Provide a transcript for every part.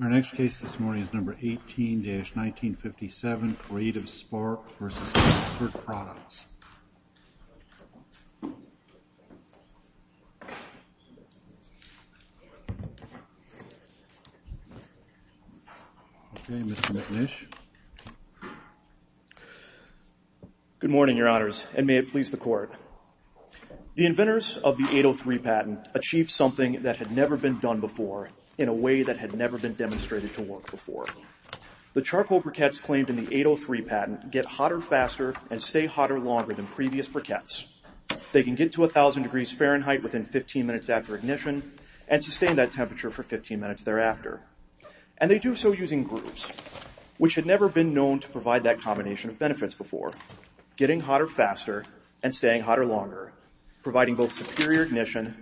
Our next case this morning is number 18-1957, Creative Spark v. Kingsford Products. Good morning, Your Honors, and may it please the Court. The inventors of the 803 patent achieved something that had never been done before in a way that had never been demonstrated to work before. The charcoal briquettes claimed in the 803 patent get hotter faster and stay hotter longer than previous briquettes. They can get to 1,000 degrees Fahrenheit within 15 minutes after ignition and sustain that temperature for 15 minutes thereafter, and they do so using grooves, which had never been known to provide that combination of benefits before, getting hotter faster and staying hotter longer, providing both superior ignition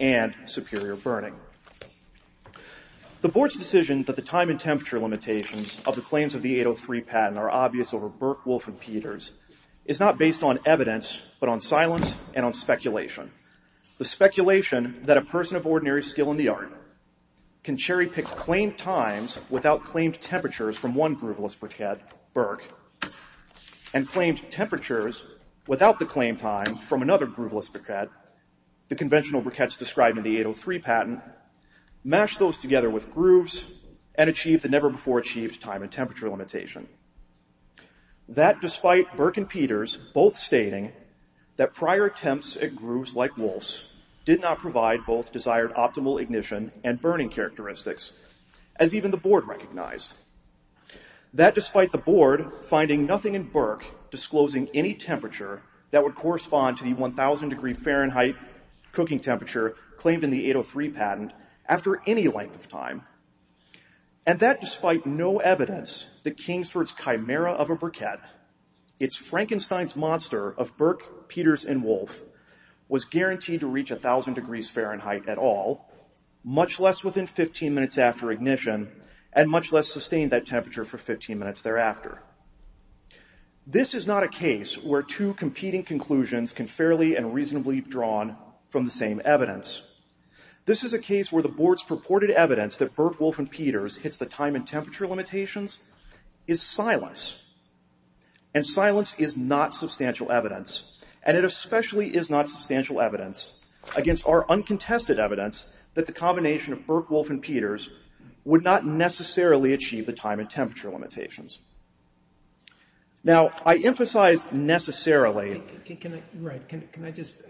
and superior burning. The Board's decision that the time and temperature limitations of the claims of the 803 patent are obvious over Burke, Wolfe, and Peters is not based on evidence, but on silence and on speculation. The speculation that a person of ordinary skill in the art can cherry-pick claimed times without claimed temperatures from one grooveless briquette, Burke, and claimed temperatures without the claimed time from another grooveless briquette, the conventional briquettes described in the 803 patent, mash those together with grooves and achieve the never-before-achieved time and temperature limitation. That despite Burke and Peters both stating that prior attempts at grooves like Wolfe's did not provide both desired optimal ignition and burning characteristics, as even the Board recognized. That despite the Board finding nothing in Burke disclosing any temperature that would claimed in the 803 patent after any length of time, and that despite no evidence that came for its chimera of a briquette, its Frankenstein's monster of Burke, Peters, and Wolfe was guaranteed to reach 1,000 degrees Fahrenheit at all, much less within 15 minutes after ignition, and much less sustained that temperature for 15 minutes thereafter. This is not a case where two competing conclusions can fairly and reasonably be drawn from the same evidence. This is a case where the Board's purported evidence that Burke, Wolfe, and Peters hits the time and temperature limitations is silence. And silence is not substantial evidence, and it especially is not substantial evidence against our uncontested evidence that the combination of Burke, Wolfe, and Peters would not necessarily achieve the time and temperature limitations. Now, I emphasize necessarily... Can I just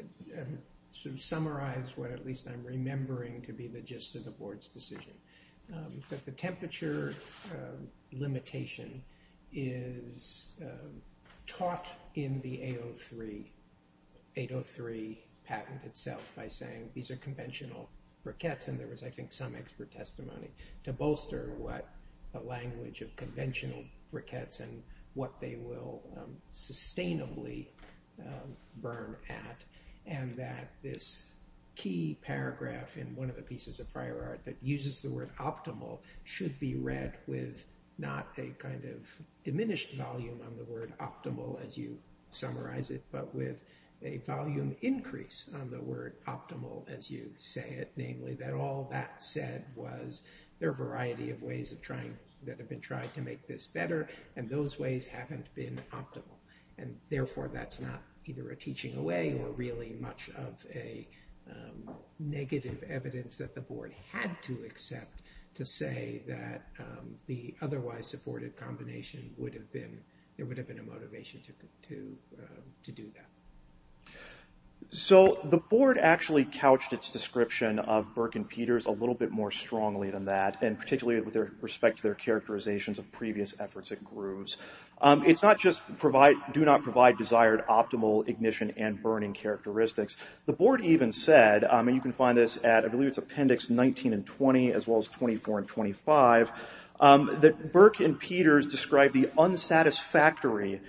summarize what at least I'm remembering to be the gist of the Board's decision? That the temperature limitation is taught in the 803 patent itself by saying these are conventional briquettes, and there was, I think, some expert testimony to bolster what the language of conventional briquettes and what they will sustainably burn at, and that this key paragraph in one of the pieces of prior art that uses the word optimal should be read with not a kind of diminished volume on the word optimal as you summarize it, but with a volume increase on the word optimal as you say it, namely that all that said was there are a variety of ways that have been tried to make this better, and those ways haven't been optimal, and therefore that's not either a teaching away or really much of a negative evidence that the Board had to accept to say that the otherwise supportive combination would have been... There would have been a motivation to do that. So the Board actually couched its description of Burke and Peters a little bit more strongly than that, and particularly with respect to their characterizations of previous efforts at grooves. It's not just do not provide desired optimal ignition and burning characteristics. The Board even said, and you can find this at, I believe it's appendix 19 and 20, as well as 24 and 25, that Burke and Peters described the unsatisfactory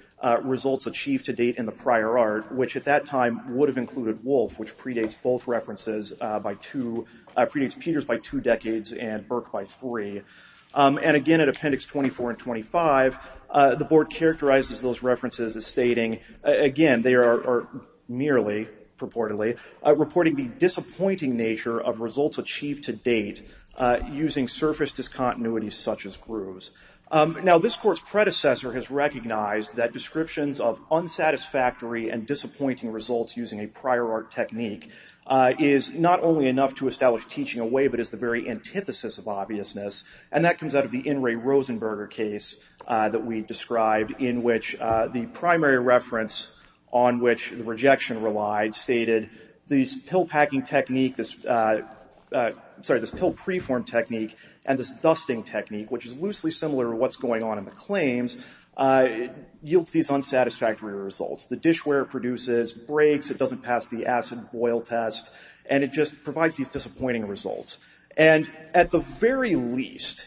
results achieved to date in the prior art, which at that time would have included Wolfe, which predates both references by two, predates Peters by two decades and Burke by three. And again, at appendix 24 and 25, the Board characterizes those references as stating, again, they are merely purportedly, reporting the disappointing nature of results achieved to date using surface discontinuities such as grooves. Now, this Court's predecessor has recognized that descriptions of unsatisfactory and disappointing results using a prior art technique is not only enough to establish teaching away, but is the very antithesis of obviousness. And that comes out of the In re Rosenberger case that we described in which the primary reference on which the rejection relied stated this pill packing technique, sorry, this pill preform technique and this dusting technique, which is loosely similar to what's going on in the claims, yields these unsatisfactory results. The dishware produces, breaks, it doesn't pass the acid boil test, and it just provides these disappointing results. And at the very least,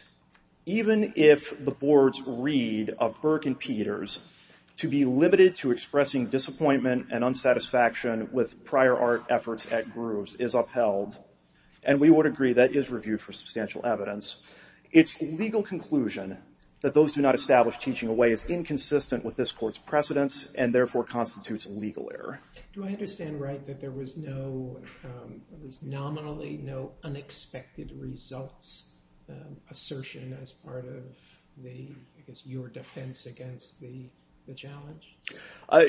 even if the Board's read of Burke and Peters to be limited to expressing disappointment and unsatisfaction with prior art efforts at grooves is upheld, and we would agree that is reviewed for substantial evidence, its legal conclusion that those do not establish teaching away is inconsistent with this Court's precedence and therefore constitutes legal error. Do I understand right that there was no, there was nominally no unexpected results assertion as part of the, I guess, your defense against the challenge?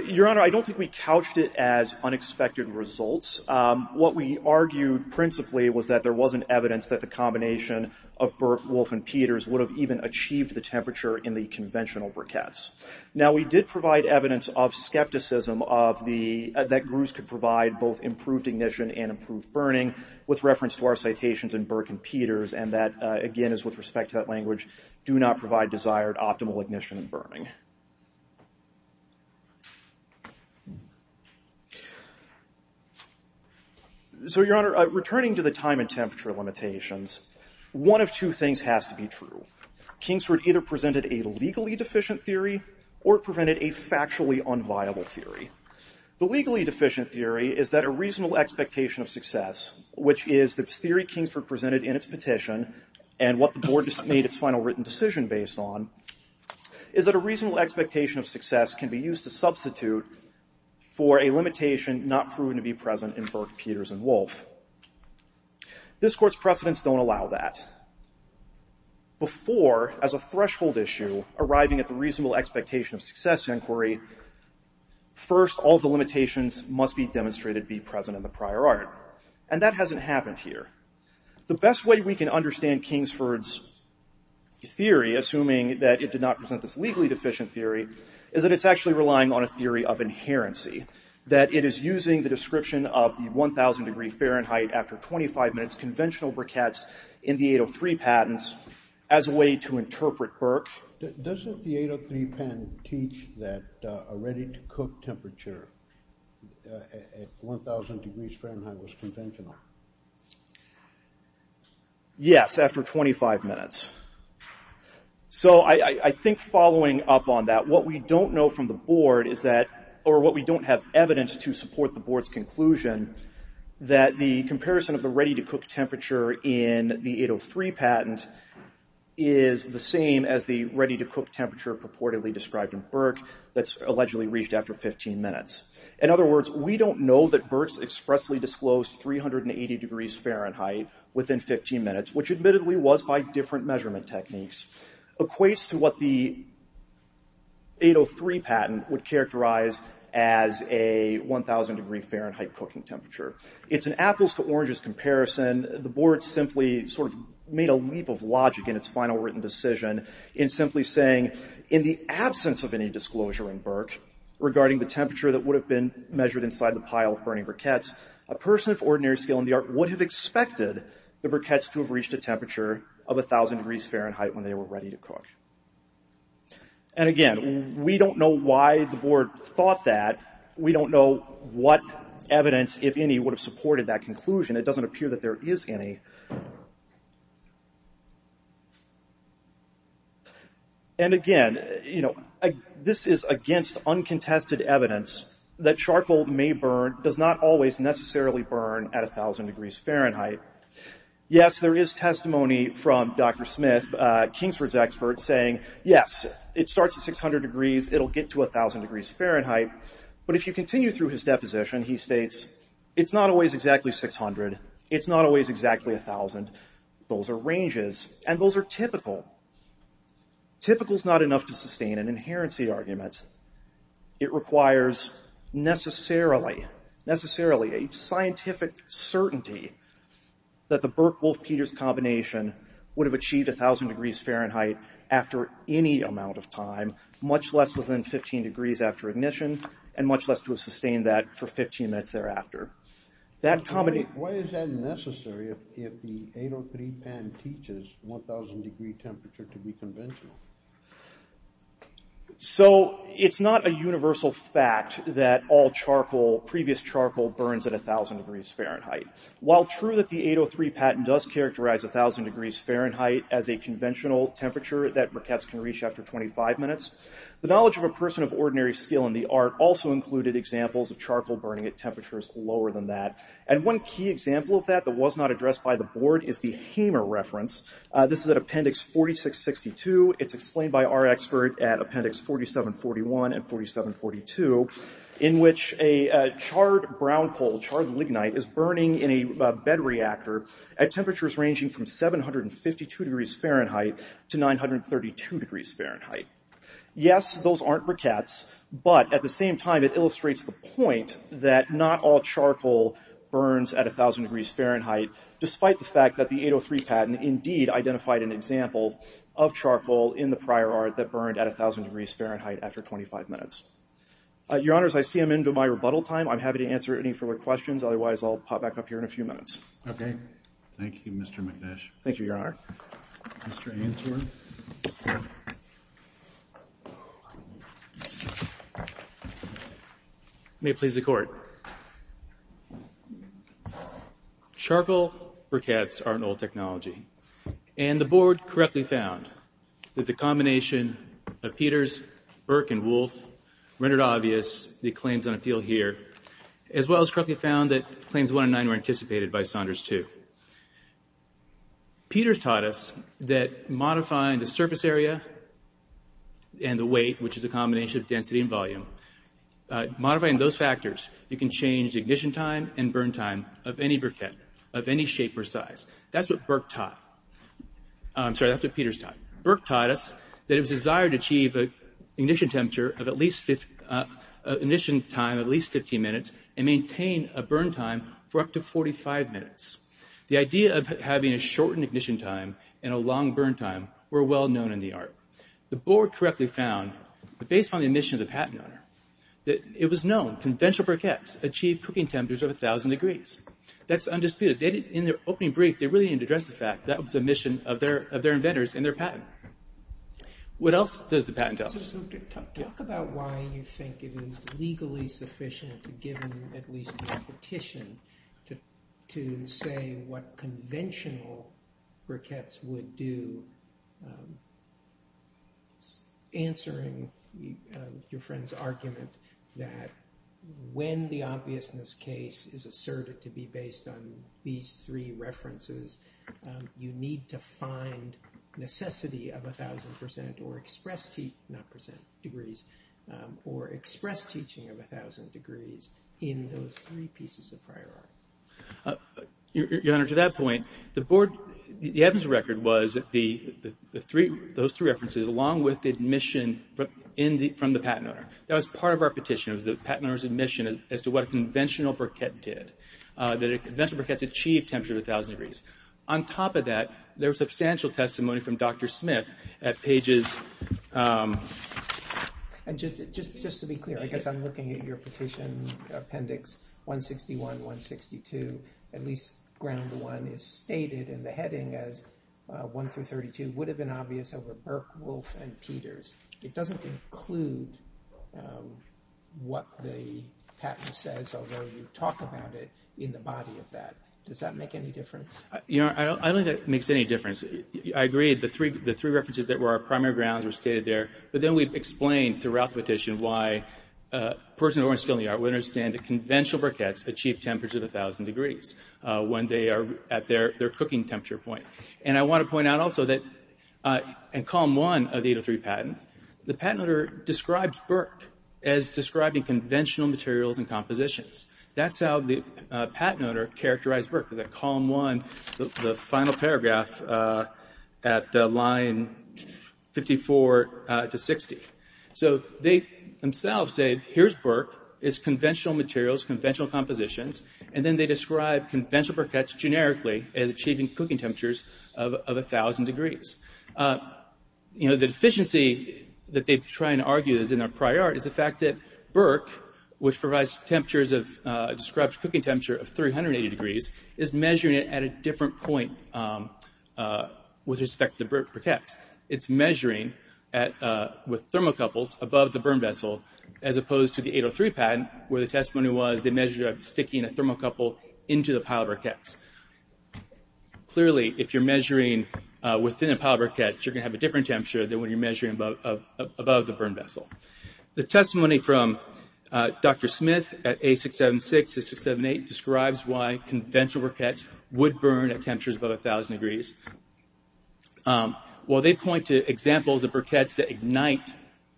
Your Honor, I don't think we couched it as unexpected results. What we argued principally was that there wasn't evidence that the combination of Burke, Wolf, and Peters would have even achieved the temperature in the conventional briquettes. Now, we did provide evidence of skepticism of the, that grooves could provide both improved ignition and improved burning with reference to our citations in Burke and Peters, and that, again, is with respect to that language, do not provide desired optimal ignition and burning. So, your Honor, returning to the time and temperature limitations, one of two things has to be true. Kingsford either presented a legally deficient theory or prevented a factually unviable theory. The legally deficient theory is that a reasonable expectation of success, which is the theory Kingsford presented in its petition and what the Board made its final written decision based on, is that a reasonable expectation of success can be used to substitute for a limitation not proven to be present in Burke, Peters, and Wolf. This Court's precedents don't allow that. Before, as a threshold issue, arriving at the reasonable expectation of success inquiry, first, all the limitations must be demonstrated to be present in the prior art, and that hasn't happened here. The best way we can understand Kingsford's theory, assuming that it did not present this legally deficient theory, is that it's actually relying on a theory of inherency, that it is using the description of the 1,000 degree Fahrenheit after 25 minutes conventional briquettes in the 803 patents as a way to interpret Burke. Doesn't the 803 patent teach that a ready-to-cook temperature at 1,000 degrees Fahrenheit was conventional? Yes, after 25 minutes. I think following up on that, what we don't know from the Board is that, or what we don't have evidence to support the Board's conclusion, that the comparison of the ready-to-cook temperature in the 803 patent is the same as the ready-to-cook temperature purportedly described in Burke that's allegedly reached after 15 minutes. In other words, we don't know that Burke's expressly disclosed 380 degrees Fahrenheit within 15 minutes, which admittedly was by different measurement techniques, equates to what the 803 patent would characterize as a 1,000 degree Fahrenheit cooking temperature. It's an apples-to-oranges comparison. The Board simply sort of made a leap of logic in its final written decision in simply saying, in the absence of any disclosure in Burke regarding the temperature that would have been measured inside the pile of burning briquettes, a person of ordinary skill in the art would have expected the briquettes to have reached a temperature of 1,000 degrees Fahrenheit when they were ready to cook. And again, we don't know why the Board thought that. We don't know what evidence, if any, would have supported that conclusion. It doesn't appear that there is any. And again, this is against uncontested evidence that charcoal may burn, does not always necessarily burn at 1,000 degrees Fahrenheit. Yes, there is testimony from Dr. Smith, Kingsford's expert, saying, yes, it starts at 600 degrees, it'll get to 1,000 degrees Fahrenheit. But if you continue through his deposition, he states, it's not always exactly 600, it's not always exactly 1,000. Those are ranges, and those are typical. Typical is not enough to sustain an inherency argument. It requires necessarily a scientific certainty that the Burke-Wolfe-Peters combination would have achieved 1,000 degrees Fahrenheit after any amount of time, much less within 15 degrees after ignition, and much less to have sustained that for 15 minutes thereafter. Why is that necessary if the 803 patent teaches 1,000 degree temperature to be conventional? So, it's not a universal fact that all charcoal, previous charcoal, burns at 1,000 degrees Fahrenheit. While true that the 803 patent does characterize 1,000 degrees Fahrenheit as a conventional temperature that briquettes can reach after 25 minutes, the knowledge of a person of ordinary skill in the art also included examples of charcoal burning at temperatures lower than that. And one key example of that that was not addressed by the board is the Hamer reference. This is at Appendix 4662. It's explained by our expert at Appendix 4741 and 4742, in which a charred brown coal, charred lignite, is burning in a bed reactor at temperatures ranging from 752 degrees Fahrenheit to 932 degrees Fahrenheit. Yes, those aren't briquettes, but at the same time it illustrates the point that not all charcoal burns at 1,000 degrees Fahrenheit, despite the fact that the 803 patent indeed identified an example of charcoal in the prior art that burned at 1,000 degrees Fahrenheit after 25 minutes. Your Honors, I see I'm into my rebuttal time. I'm happy to answer any further questions. Otherwise, I'll pop back up here in a few minutes. Okay. Thank you, Mr. McNesh. Thank you, Your Honor. Mr. Ainsworth. May it please the Court. Charcoal briquettes are an old technology. And the Board correctly found that the combination of Peters, Burke, and Wolfe rendered obvious the claims on appeal here, as well as correctly found that Claims 109 were anticipated by Saunders II. Peters taught us that modifying the surface area and the weight, which is a combination of density and volume, modifying those factors, you can change ignition time and burn time of any briquette of any shape or size. That's what Burke taught. I'm sorry, that's what Peters taught. Burke taught us that it was desired to achieve an ignition temperature of at least 15 minutes and maintain a burn time for up to 45 minutes. The idea of having a shortened ignition time and a long burn time were well known in the art. The Board correctly found, based on the admission of the patent owner, that it was known conventional briquettes achieved cooking temperatures of 1,000 degrees. That's undisputed. In their opening brief, they really didn't address the fact that was admission of their inventors and their patent. What else does the patent tell us? Talk about why you think it is legally sufficient to give at least a petition to say what conventional briquettes would do, answering your friend's argument that when the obviousness case is asserted to be based on these three references, you need to find necessity of 1,000 percent or express teaching of 1,000 degrees in those three pieces of prior art. Your Honor, to that point, the evidence of record was those three references along with the admission from the patent owner. That was part of our petition. It was the patent owner's admission as to what a conventional briquette did, that conventional briquettes achieved temperatures of 1,000 degrees. On top of that, there was substantial testimony from Dr. Smith at pages— And just to be clear, I guess I'm looking at your petition appendix 161, 162. At least ground one is stated in the heading as 1 through 32 would have been obvious over Burke, Wolfe, and Peters. It doesn't include what the patent says, although you talk about it in the body of that. Does that make any difference? Your Honor, I don't think that makes any difference. I agree the three references that were our primary grounds were stated there, but then we've explained throughout the petition why a person who wants to fill in the art would understand that conventional briquettes achieve temperatures of 1,000 degrees when they are at their cooking temperature point. And I want to point out also that in column one of the 803 patent, the patent owner describes Burke as describing conventional materials and compositions. That's how the patent owner characterized Burke, in that column one, the final paragraph at line 54 to 60. So they themselves say, here's Burke. It's conventional materials, conventional compositions, and then they describe conventional briquettes generically as achieving cooking temperatures of 1,000 degrees. The deficiency that they try and argue is in their prior art is the fact that Burke, which provides temperatures of, describes cooking temperature of 380 degrees, is measuring it at a different point with respect to the briquettes. It's measuring with thermocouples above the burn vessel as opposed to the 803 patent where the testimony was they measured it by sticking a thermocouple into the pile of briquettes. Clearly, if you're measuring within a pile of briquettes, you're going to have a different temperature than when you're measuring above the burn vessel. The testimony from Dr. Smith at A676 to A678 describes why conventional briquettes would burn at temperatures above 1,000 degrees. While they point to examples of briquettes that ignite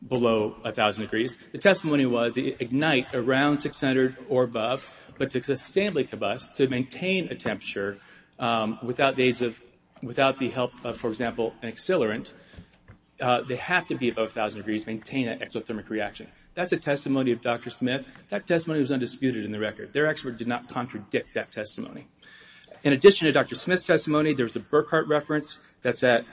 below 1,000 degrees, the testimony was they ignite around 600 or above, but to sustainably combust, to maintain a temperature without the help of, for example, an accelerant, they have to be above 1,000 degrees to maintain that exothermic reaction. That's a testimony of Dr. Smith. That testimony was undisputed in the record. Their expert did not contradict that testimony. In addition to Dr. Smith's testimony, there was a Burkhart reference that's at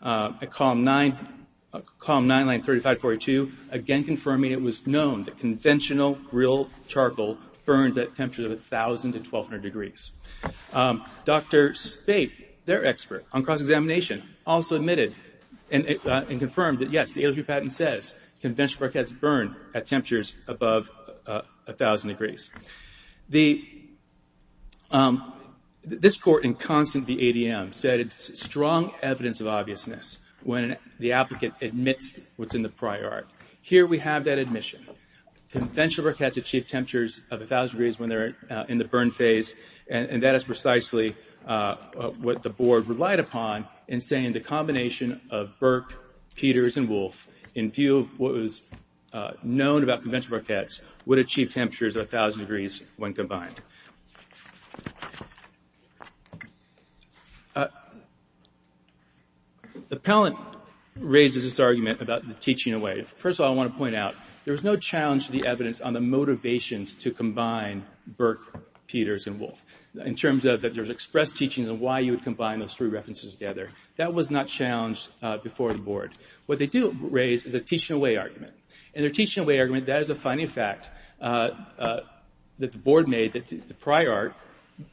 column 9, line 3542, again confirming it was known that conventional grill charcoal burns at temperatures of 1,000 to 1,200 degrees. Dr. Spape, their expert on cross-examination, also admitted and confirmed that, yes, the ALG patent says conventional briquettes burn at temperatures above 1,000 degrees. This court in Constance v. ADM said it's strong evidence of obviousness when the applicant admits what's in the prior art. Here we have that admission. Conventional briquettes achieve temperatures of 1,000 degrees when they're in the burn phase, and that is precisely what the board relied upon in saying the combination of Burke, Peters, and Wolfe in view of what was known about conventional briquettes would achieve temperatures of 1,000 degrees when combined. The appellant raises this argument about the teaching away. First of all, I want to point out there was no challenge to the evidence on the motivations to combine Burke, Peters, and Wolfe in terms of that there's expressed teachings and why you would combine those three references together. That was not challenged before the board. What they do raise is a teaching away argument. And their teaching away argument, that is a finding of fact that the board made that the prior art,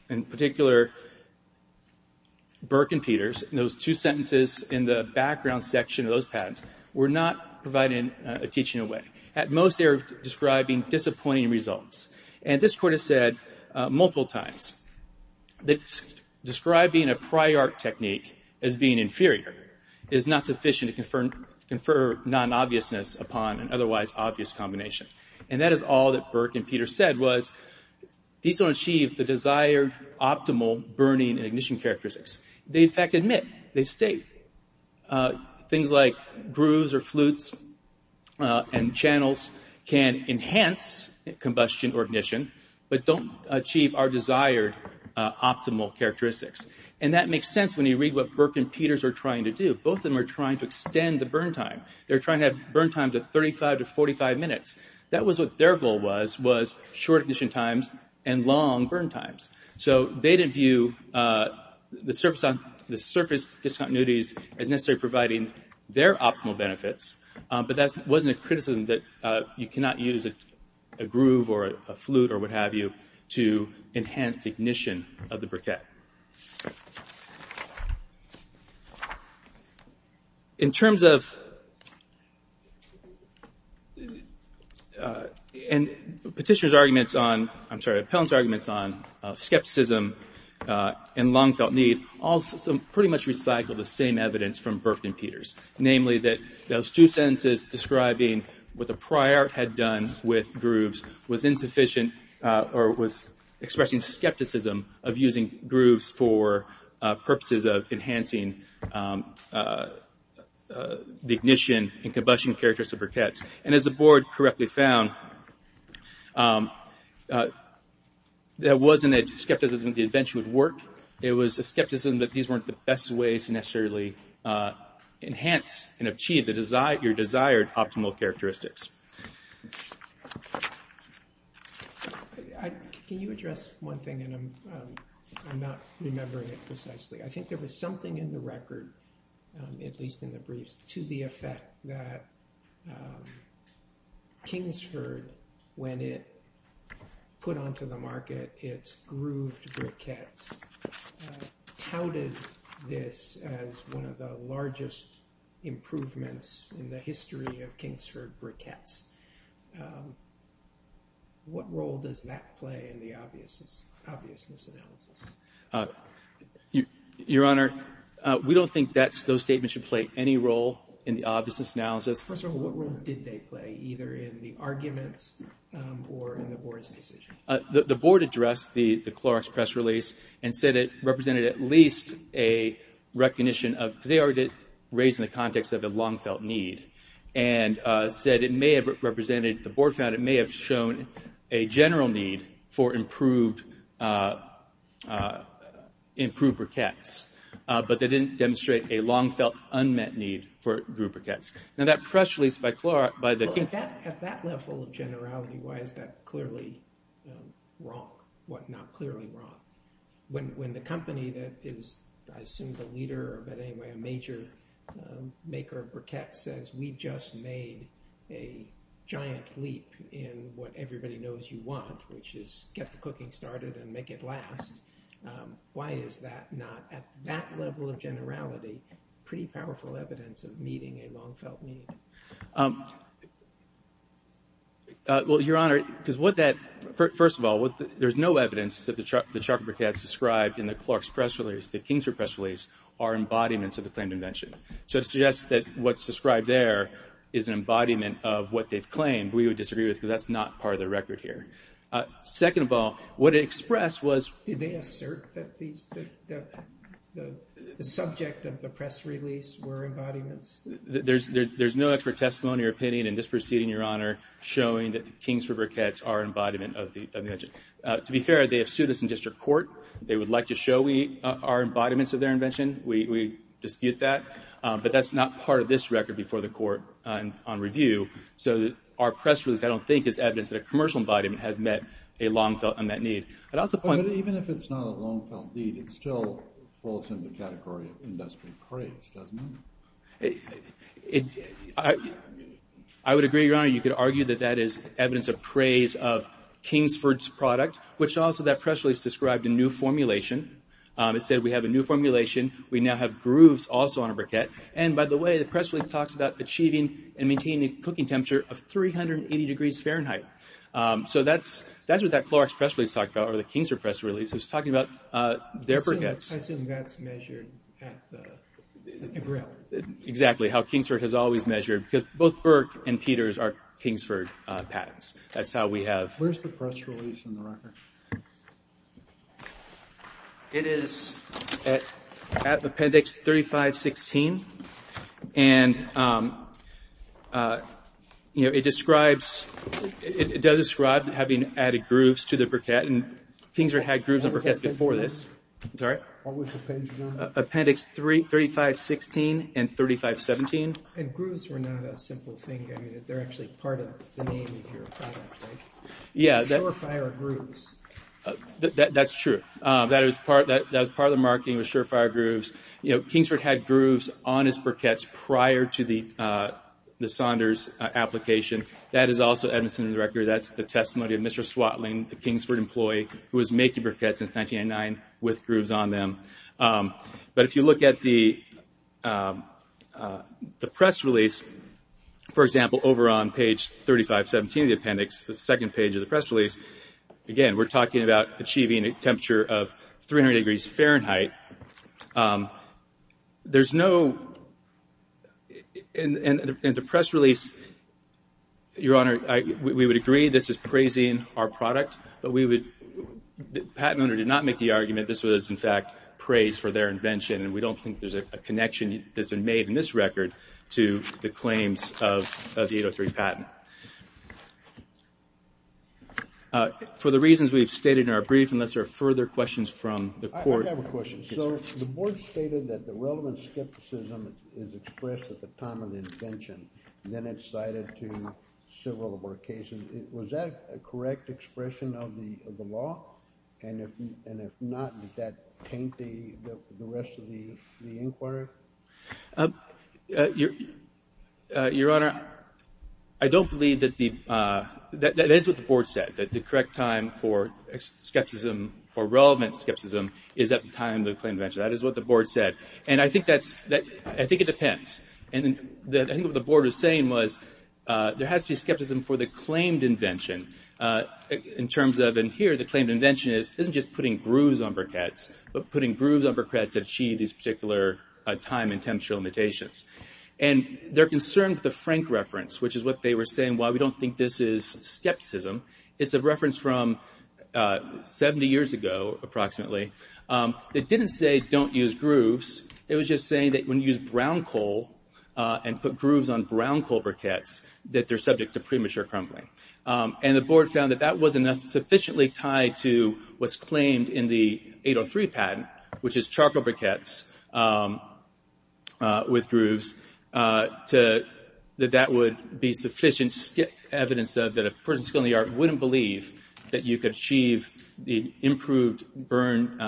in particular Burke and Peters, and those two sentences in the background section of those patents were not providing a teaching away. At most, they were describing disappointing results. And this court has said multiple times that describing a prior art technique as being inferior is not sufficient to confer non-obviousness upon an otherwise obvious combination. And that is all that Burke and Peters said was these don't achieve the desired optimal burning and ignition characteristics. They in fact admit, they state, things like grooves or flutes and channels can enhance combustion or ignition but don't achieve our desired optimal characteristics. And that makes sense when you read what Burke and Peters are trying to do. Both of them are trying to extend the burn time. They're trying to have burn time to 35 to 45 minutes. That was what their goal was, was short ignition times and long burn times. So they didn't view the surface discontinuities as necessarily providing their optimal benefits. But that wasn't a criticism that you cannot use a groove or a flute or what have you to enhance the ignition of the briquette. In terms of, and Petitioner's arguments on, I'm sorry, Pellin's arguments on skepticism and long felt need all pretty much recycle the same evidence from Burke and Peters. Namely that those two sentences describing what the prior art had done with grooves was insufficient or was expressing skepticism of using grooves for purposes of enhancing the ignition and combustion characteristics of briquettes. And as the board correctly found, that wasn't a skepticism that the invention would work. It was a skepticism that these weren't the best ways to necessarily enhance and achieve your desired optimal characteristics. Can you address one thing? And I'm not remembering it precisely. I think there was something in the record, at least in the briefs, to the effect that Kingsford, when it put onto the market its grooved briquettes, touted this as one of the largest improvements in the history of Kingsford briquettes. What role does that play in the obviousness analysis? Your Honor, we don't think those statements should play any role in the obviousness analysis. First of all, what role did they play, either in the arguments or in the board's decision? The board addressed the Clorox press release and said it represented at least a recognition of, because they already raised it in the context of a long-felt need, and said it may have represented, the board found it may have shown a general need for improved briquettes, but they didn't demonstrate a long-felt, unmet need for grooved briquettes. Now that press release by the... Well, at that level of generality, why is that clearly wrong? What not clearly wrong? When the company that is, I assume the leader, but anyway, a major maker of briquettes says, we just made a giant leap in what everybody knows you want, which is get the cooking started and make it last. Why is that not, at that level of generality, pretty powerful evidence of meeting a long-felt need? Well, Your Honor, because what that... First of all, there's no evidence that the charcoal briquettes described in the Clorox press release, the Kingsford press release, are embodiments of the claimed invention. So to suggest that what's described there is an embodiment of what they've claimed, we would disagree with it because that's not part of the record here. Second of all, what it expressed was... Did they assert that the subject of the press release were embodiments? There's no expert testimony or opinion in this proceeding, Your Honor, showing that the Kingsford briquettes are an embodiment of the invention. To be fair, they have sued us in district court. They would like to show we are embodiments of their invention. We dispute that. But that's not part of this record before the court on review. So our press release, I don't think, is evidence that a commercial embodiment has met a long-felt need. But even if it's not a long-felt need, it still falls in the category of industry praise, doesn't it? I would agree, Your Honor. You could argue that that is evidence of praise of Kingsford's product, which also that press release described a new formulation. It said we have a new formulation. We now have grooves also on a briquette. And by the way, the press release talks about achieving and maintaining a cooking temperature of 380 degrees Fahrenheit. So that's what that Clorox press release talked about, or the Kingsford press release was talking about their briquettes. I assume that's measured at the grill. Exactly, how Kingsford has always measured. Because both Burke and Peters are Kingsford patents. That's how we have... Where's the press release in the record? It is at appendix 3516. And it describes... It does describe having added grooves to the briquette. Kingsford had grooves on briquettes before this. What was the page number? Appendix 3516 and 3517. And grooves were not a simple thing. They're actually part of the name of your product, right? Yeah. Surefire grooves. That's true. That was part of the marketing was Surefire grooves. Kingsford had grooves on its briquettes prior to the Saunders application. That is also evidence in the record. That's the testimony of Mr. Swatling, the Kingsford employee, who was making briquettes in 1909 with grooves on them. But if you look at the press release, for example, over on page 3517 of the appendix, the second page of the press release, again, we're talking about achieving a temperature of 300 degrees Fahrenheit. There's no... Your Honor, we would agree this is praising our product, but the patent owner did not make the argument this was, in fact, praise for their invention, and we don't think there's a connection that's been made in this record to the claims of the 803 patent. For the reasons we've stated in our brief, unless there are further questions from the court... I have a question. So the board stated that the relevant skepticism is expressed at the time of the invention, and then it's cited to several of our cases. Was that a correct expression of the law? And if not, did that taint the rest of the inquiry? Your Honor, I don't believe that the... That is what the board said, that the correct time for skepticism or relevant skepticism is at the time of the invention. That is what the board said. And I think it depends. And I think what the board was saying was there has to be skepticism for the claimed invention in terms of... And here, the claimed invention isn't just putting grooves on briquettes, but putting grooves on briquettes to achieve these particular time and temperature limitations. And they're concerned with the Frank reference, which is what they were saying, why we don't think this is skepticism. It's a reference from 70 years ago, approximately. They didn't say don't use grooves. It was just saying that when you use brown coal and put grooves on brown coal briquettes, that they're subject to premature crumbling. And the board found that that wasn't sufficiently tied to what's claimed in the 803 patent, which is charcoal briquettes with grooves, that that would be sufficient evidence that a person skilled in the art wouldn't believe that you could achieve the improved burn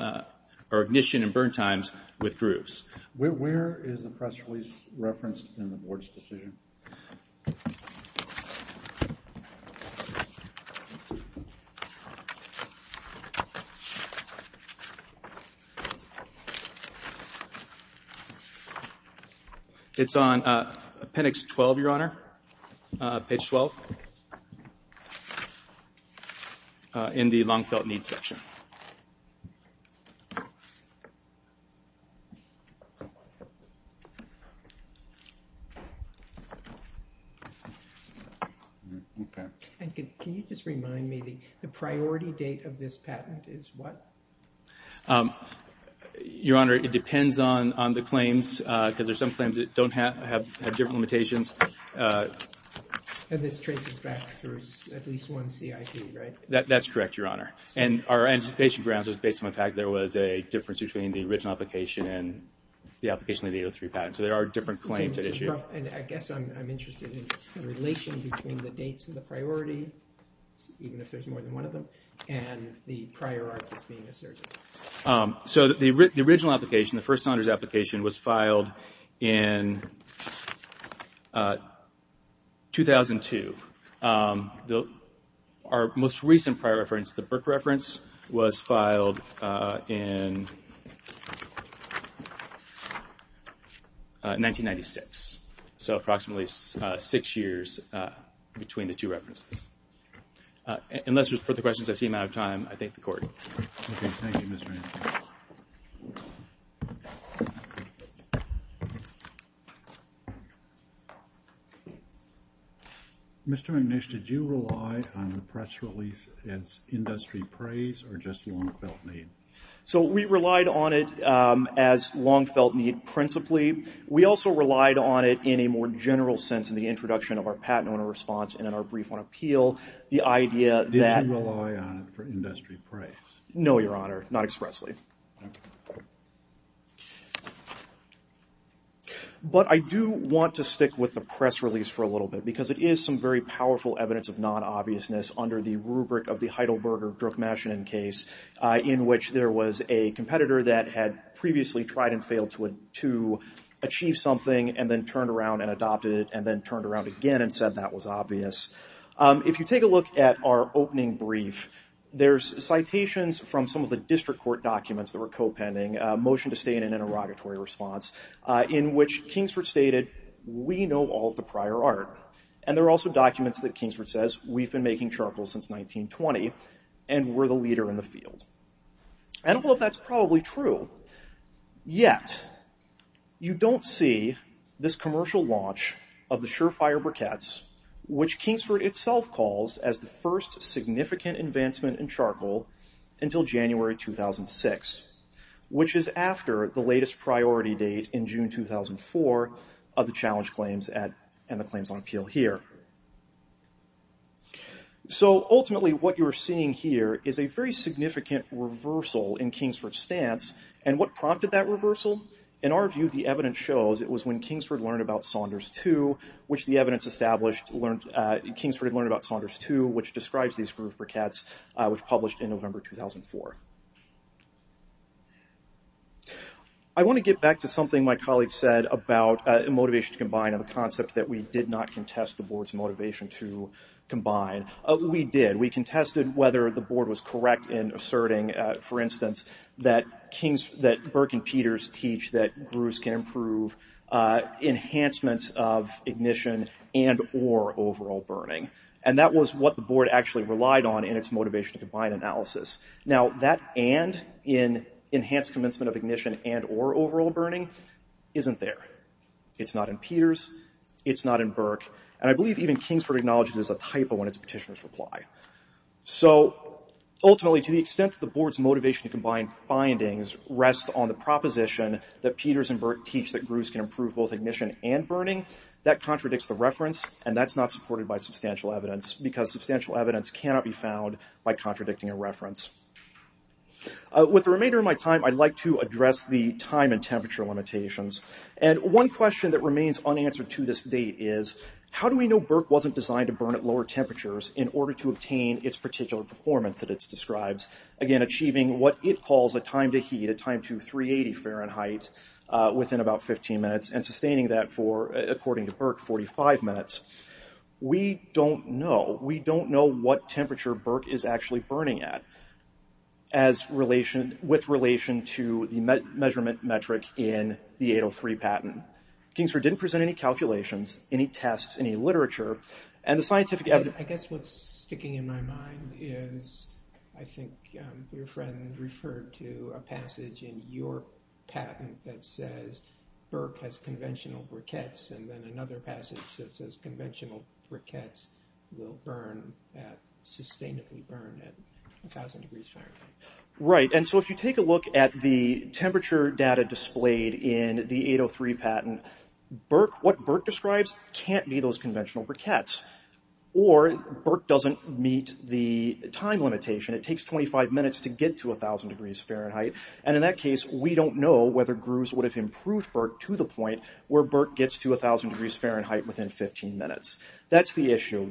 or ignition and burn times with grooves. Where is the press release referenced in the board's decision? It's on appendix 12, Your Honor, page 12. In the Longfelt Needs section. Okay. Can you just remind me the priority date of this patent is what? Your Honor, it depends on the claims, because there's some claims that don't have different limitations. And this traces back through at least one CIP, right? That's correct, Your Honor. And our anticipation grounds was based on the fact there was a difference between the original application and the application of the 803 patent. So there are different claims at issue. And I guess I'm interested in the relation between the dates and the priority, even if there's more than one of them, and the prior art that's being asserted. So the original application, the first Saunders application, was filed in 2002. Our most recent prior reference, the Burke reference, was filed in 1996. So approximately six years between the two references. Unless there's further questions, I seem out of time. I thank the Court. Okay. Thank you, Mr. McNish. Mr. McNish, did you rely on the press release as industry praise or just long-felt need? So we relied on it as long-felt need principally. We also relied on it in a more general sense in the introduction of our patent owner response and in our brief on appeal. Did you rely on it for industry praise? No, Your Honor. Not expressly. But I do want to stick with the press release for a little bit because it is some very powerful evidence of non-obviousness under the rubric of the Heidelberger-Druckmaschinen case in which there was a competitor that had previously tried and failed to achieve something and then turned around and adopted it and then turned around again and said that was obvious. If you take a look at our opening brief, there's citations from some of the district court documents that were co-pending, a motion to stay in an interrogatory response, in which Kingsford stated, we know all of the prior art. And there are also documents that Kingsford says, we've been making charcoal since 1920 and we're the leader in the field. And all of that's probably true. Yet, you don't see this commercial launch of the surefire briquettes which Kingsford itself calls as the first significant advancement in charcoal until January 2006, which is after the latest priority date in June 2004 of the challenge claims and the claims on appeal here. So ultimately what you're seeing here is a very significant reversal in Kingsford's stance. And what prompted that reversal? In our view, the evidence shows it was when Kingsford learned about Saunders II, which the evidence established Kingsford had learned about Saunders II, which describes these groove briquettes, which published in November 2004. I want to get back to something my colleague said about motivation to combine and the concept that we did not contest the board's motivation to combine. We did. We contested whether the board was correct in asserting, for instance, that Burke and Peters teach that grooves can improve enhancement of ignition and or overall burning. And that was what the board actually relied on in its motivation to combine analysis. Now, that and in enhanced commencement of ignition and or overall burning isn't there. It's not in Peters. It's not in Burke. And I believe even Kingsford acknowledged it as a typo in its petitioner's reply. So ultimately, to the extent that the board's motivation to combine findings rests on the proposition that Peters and Burke teach that grooves can improve both ignition and burning, that contradicts the reference, and that's not supported by substantial evidence, because substantial evidence cannot be found by contradicting a reference. With the remainder of my time, I'd like to address the time and temperature limitations. And one question that remains unanswered to this date is, how do we know Burke wasn't designed to burn at lower temperatures in order to obtain its particular performance that it describes, again, achieving what it calls a time to heat, a time to 380 Fahrenheit, within about 15 minutes, and sustaining that for, according to Burke, 45 minutes. We don't know. We don't know what temperature Burke is actually burning at with relation to the measurement metric in the 803 patent. Kingsford didn't present any calculations, any tests, any literature. And the scientific evidence— I guess what's sticking in my mind is, I think your friend referred to a passage in your patent that says Burke has conventional briquettes, and then another passage that says conventional briquettes will sustainably burn at 1,000 degrees Fahrenheit. Right, and so if you take a look at the temperature data displayed in the 803 patent, what Burke describes can't be those conventional briquettes, or Burke doesn't meet the time limitation. It takes 25 minutes to get to 1,000 degrees Fahrenheit. And in that case, we don't know whether Gruese would have improved Burke to the point where Burke gets to 1,000 degrees Fahrenheit within 15 minutes. That's the issue.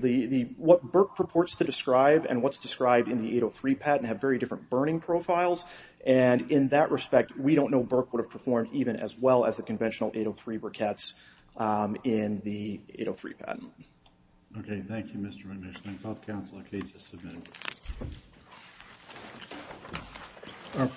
What Burke purports to describe and what's described in the 803 patent have very different burning profiles, and in that respect, we don't know Burke would have performed even as well as the conventional 803 briquettes in the 803 patent. Okay, thank you, Mr. Weinerschnank. I'll call the council on cases submitted.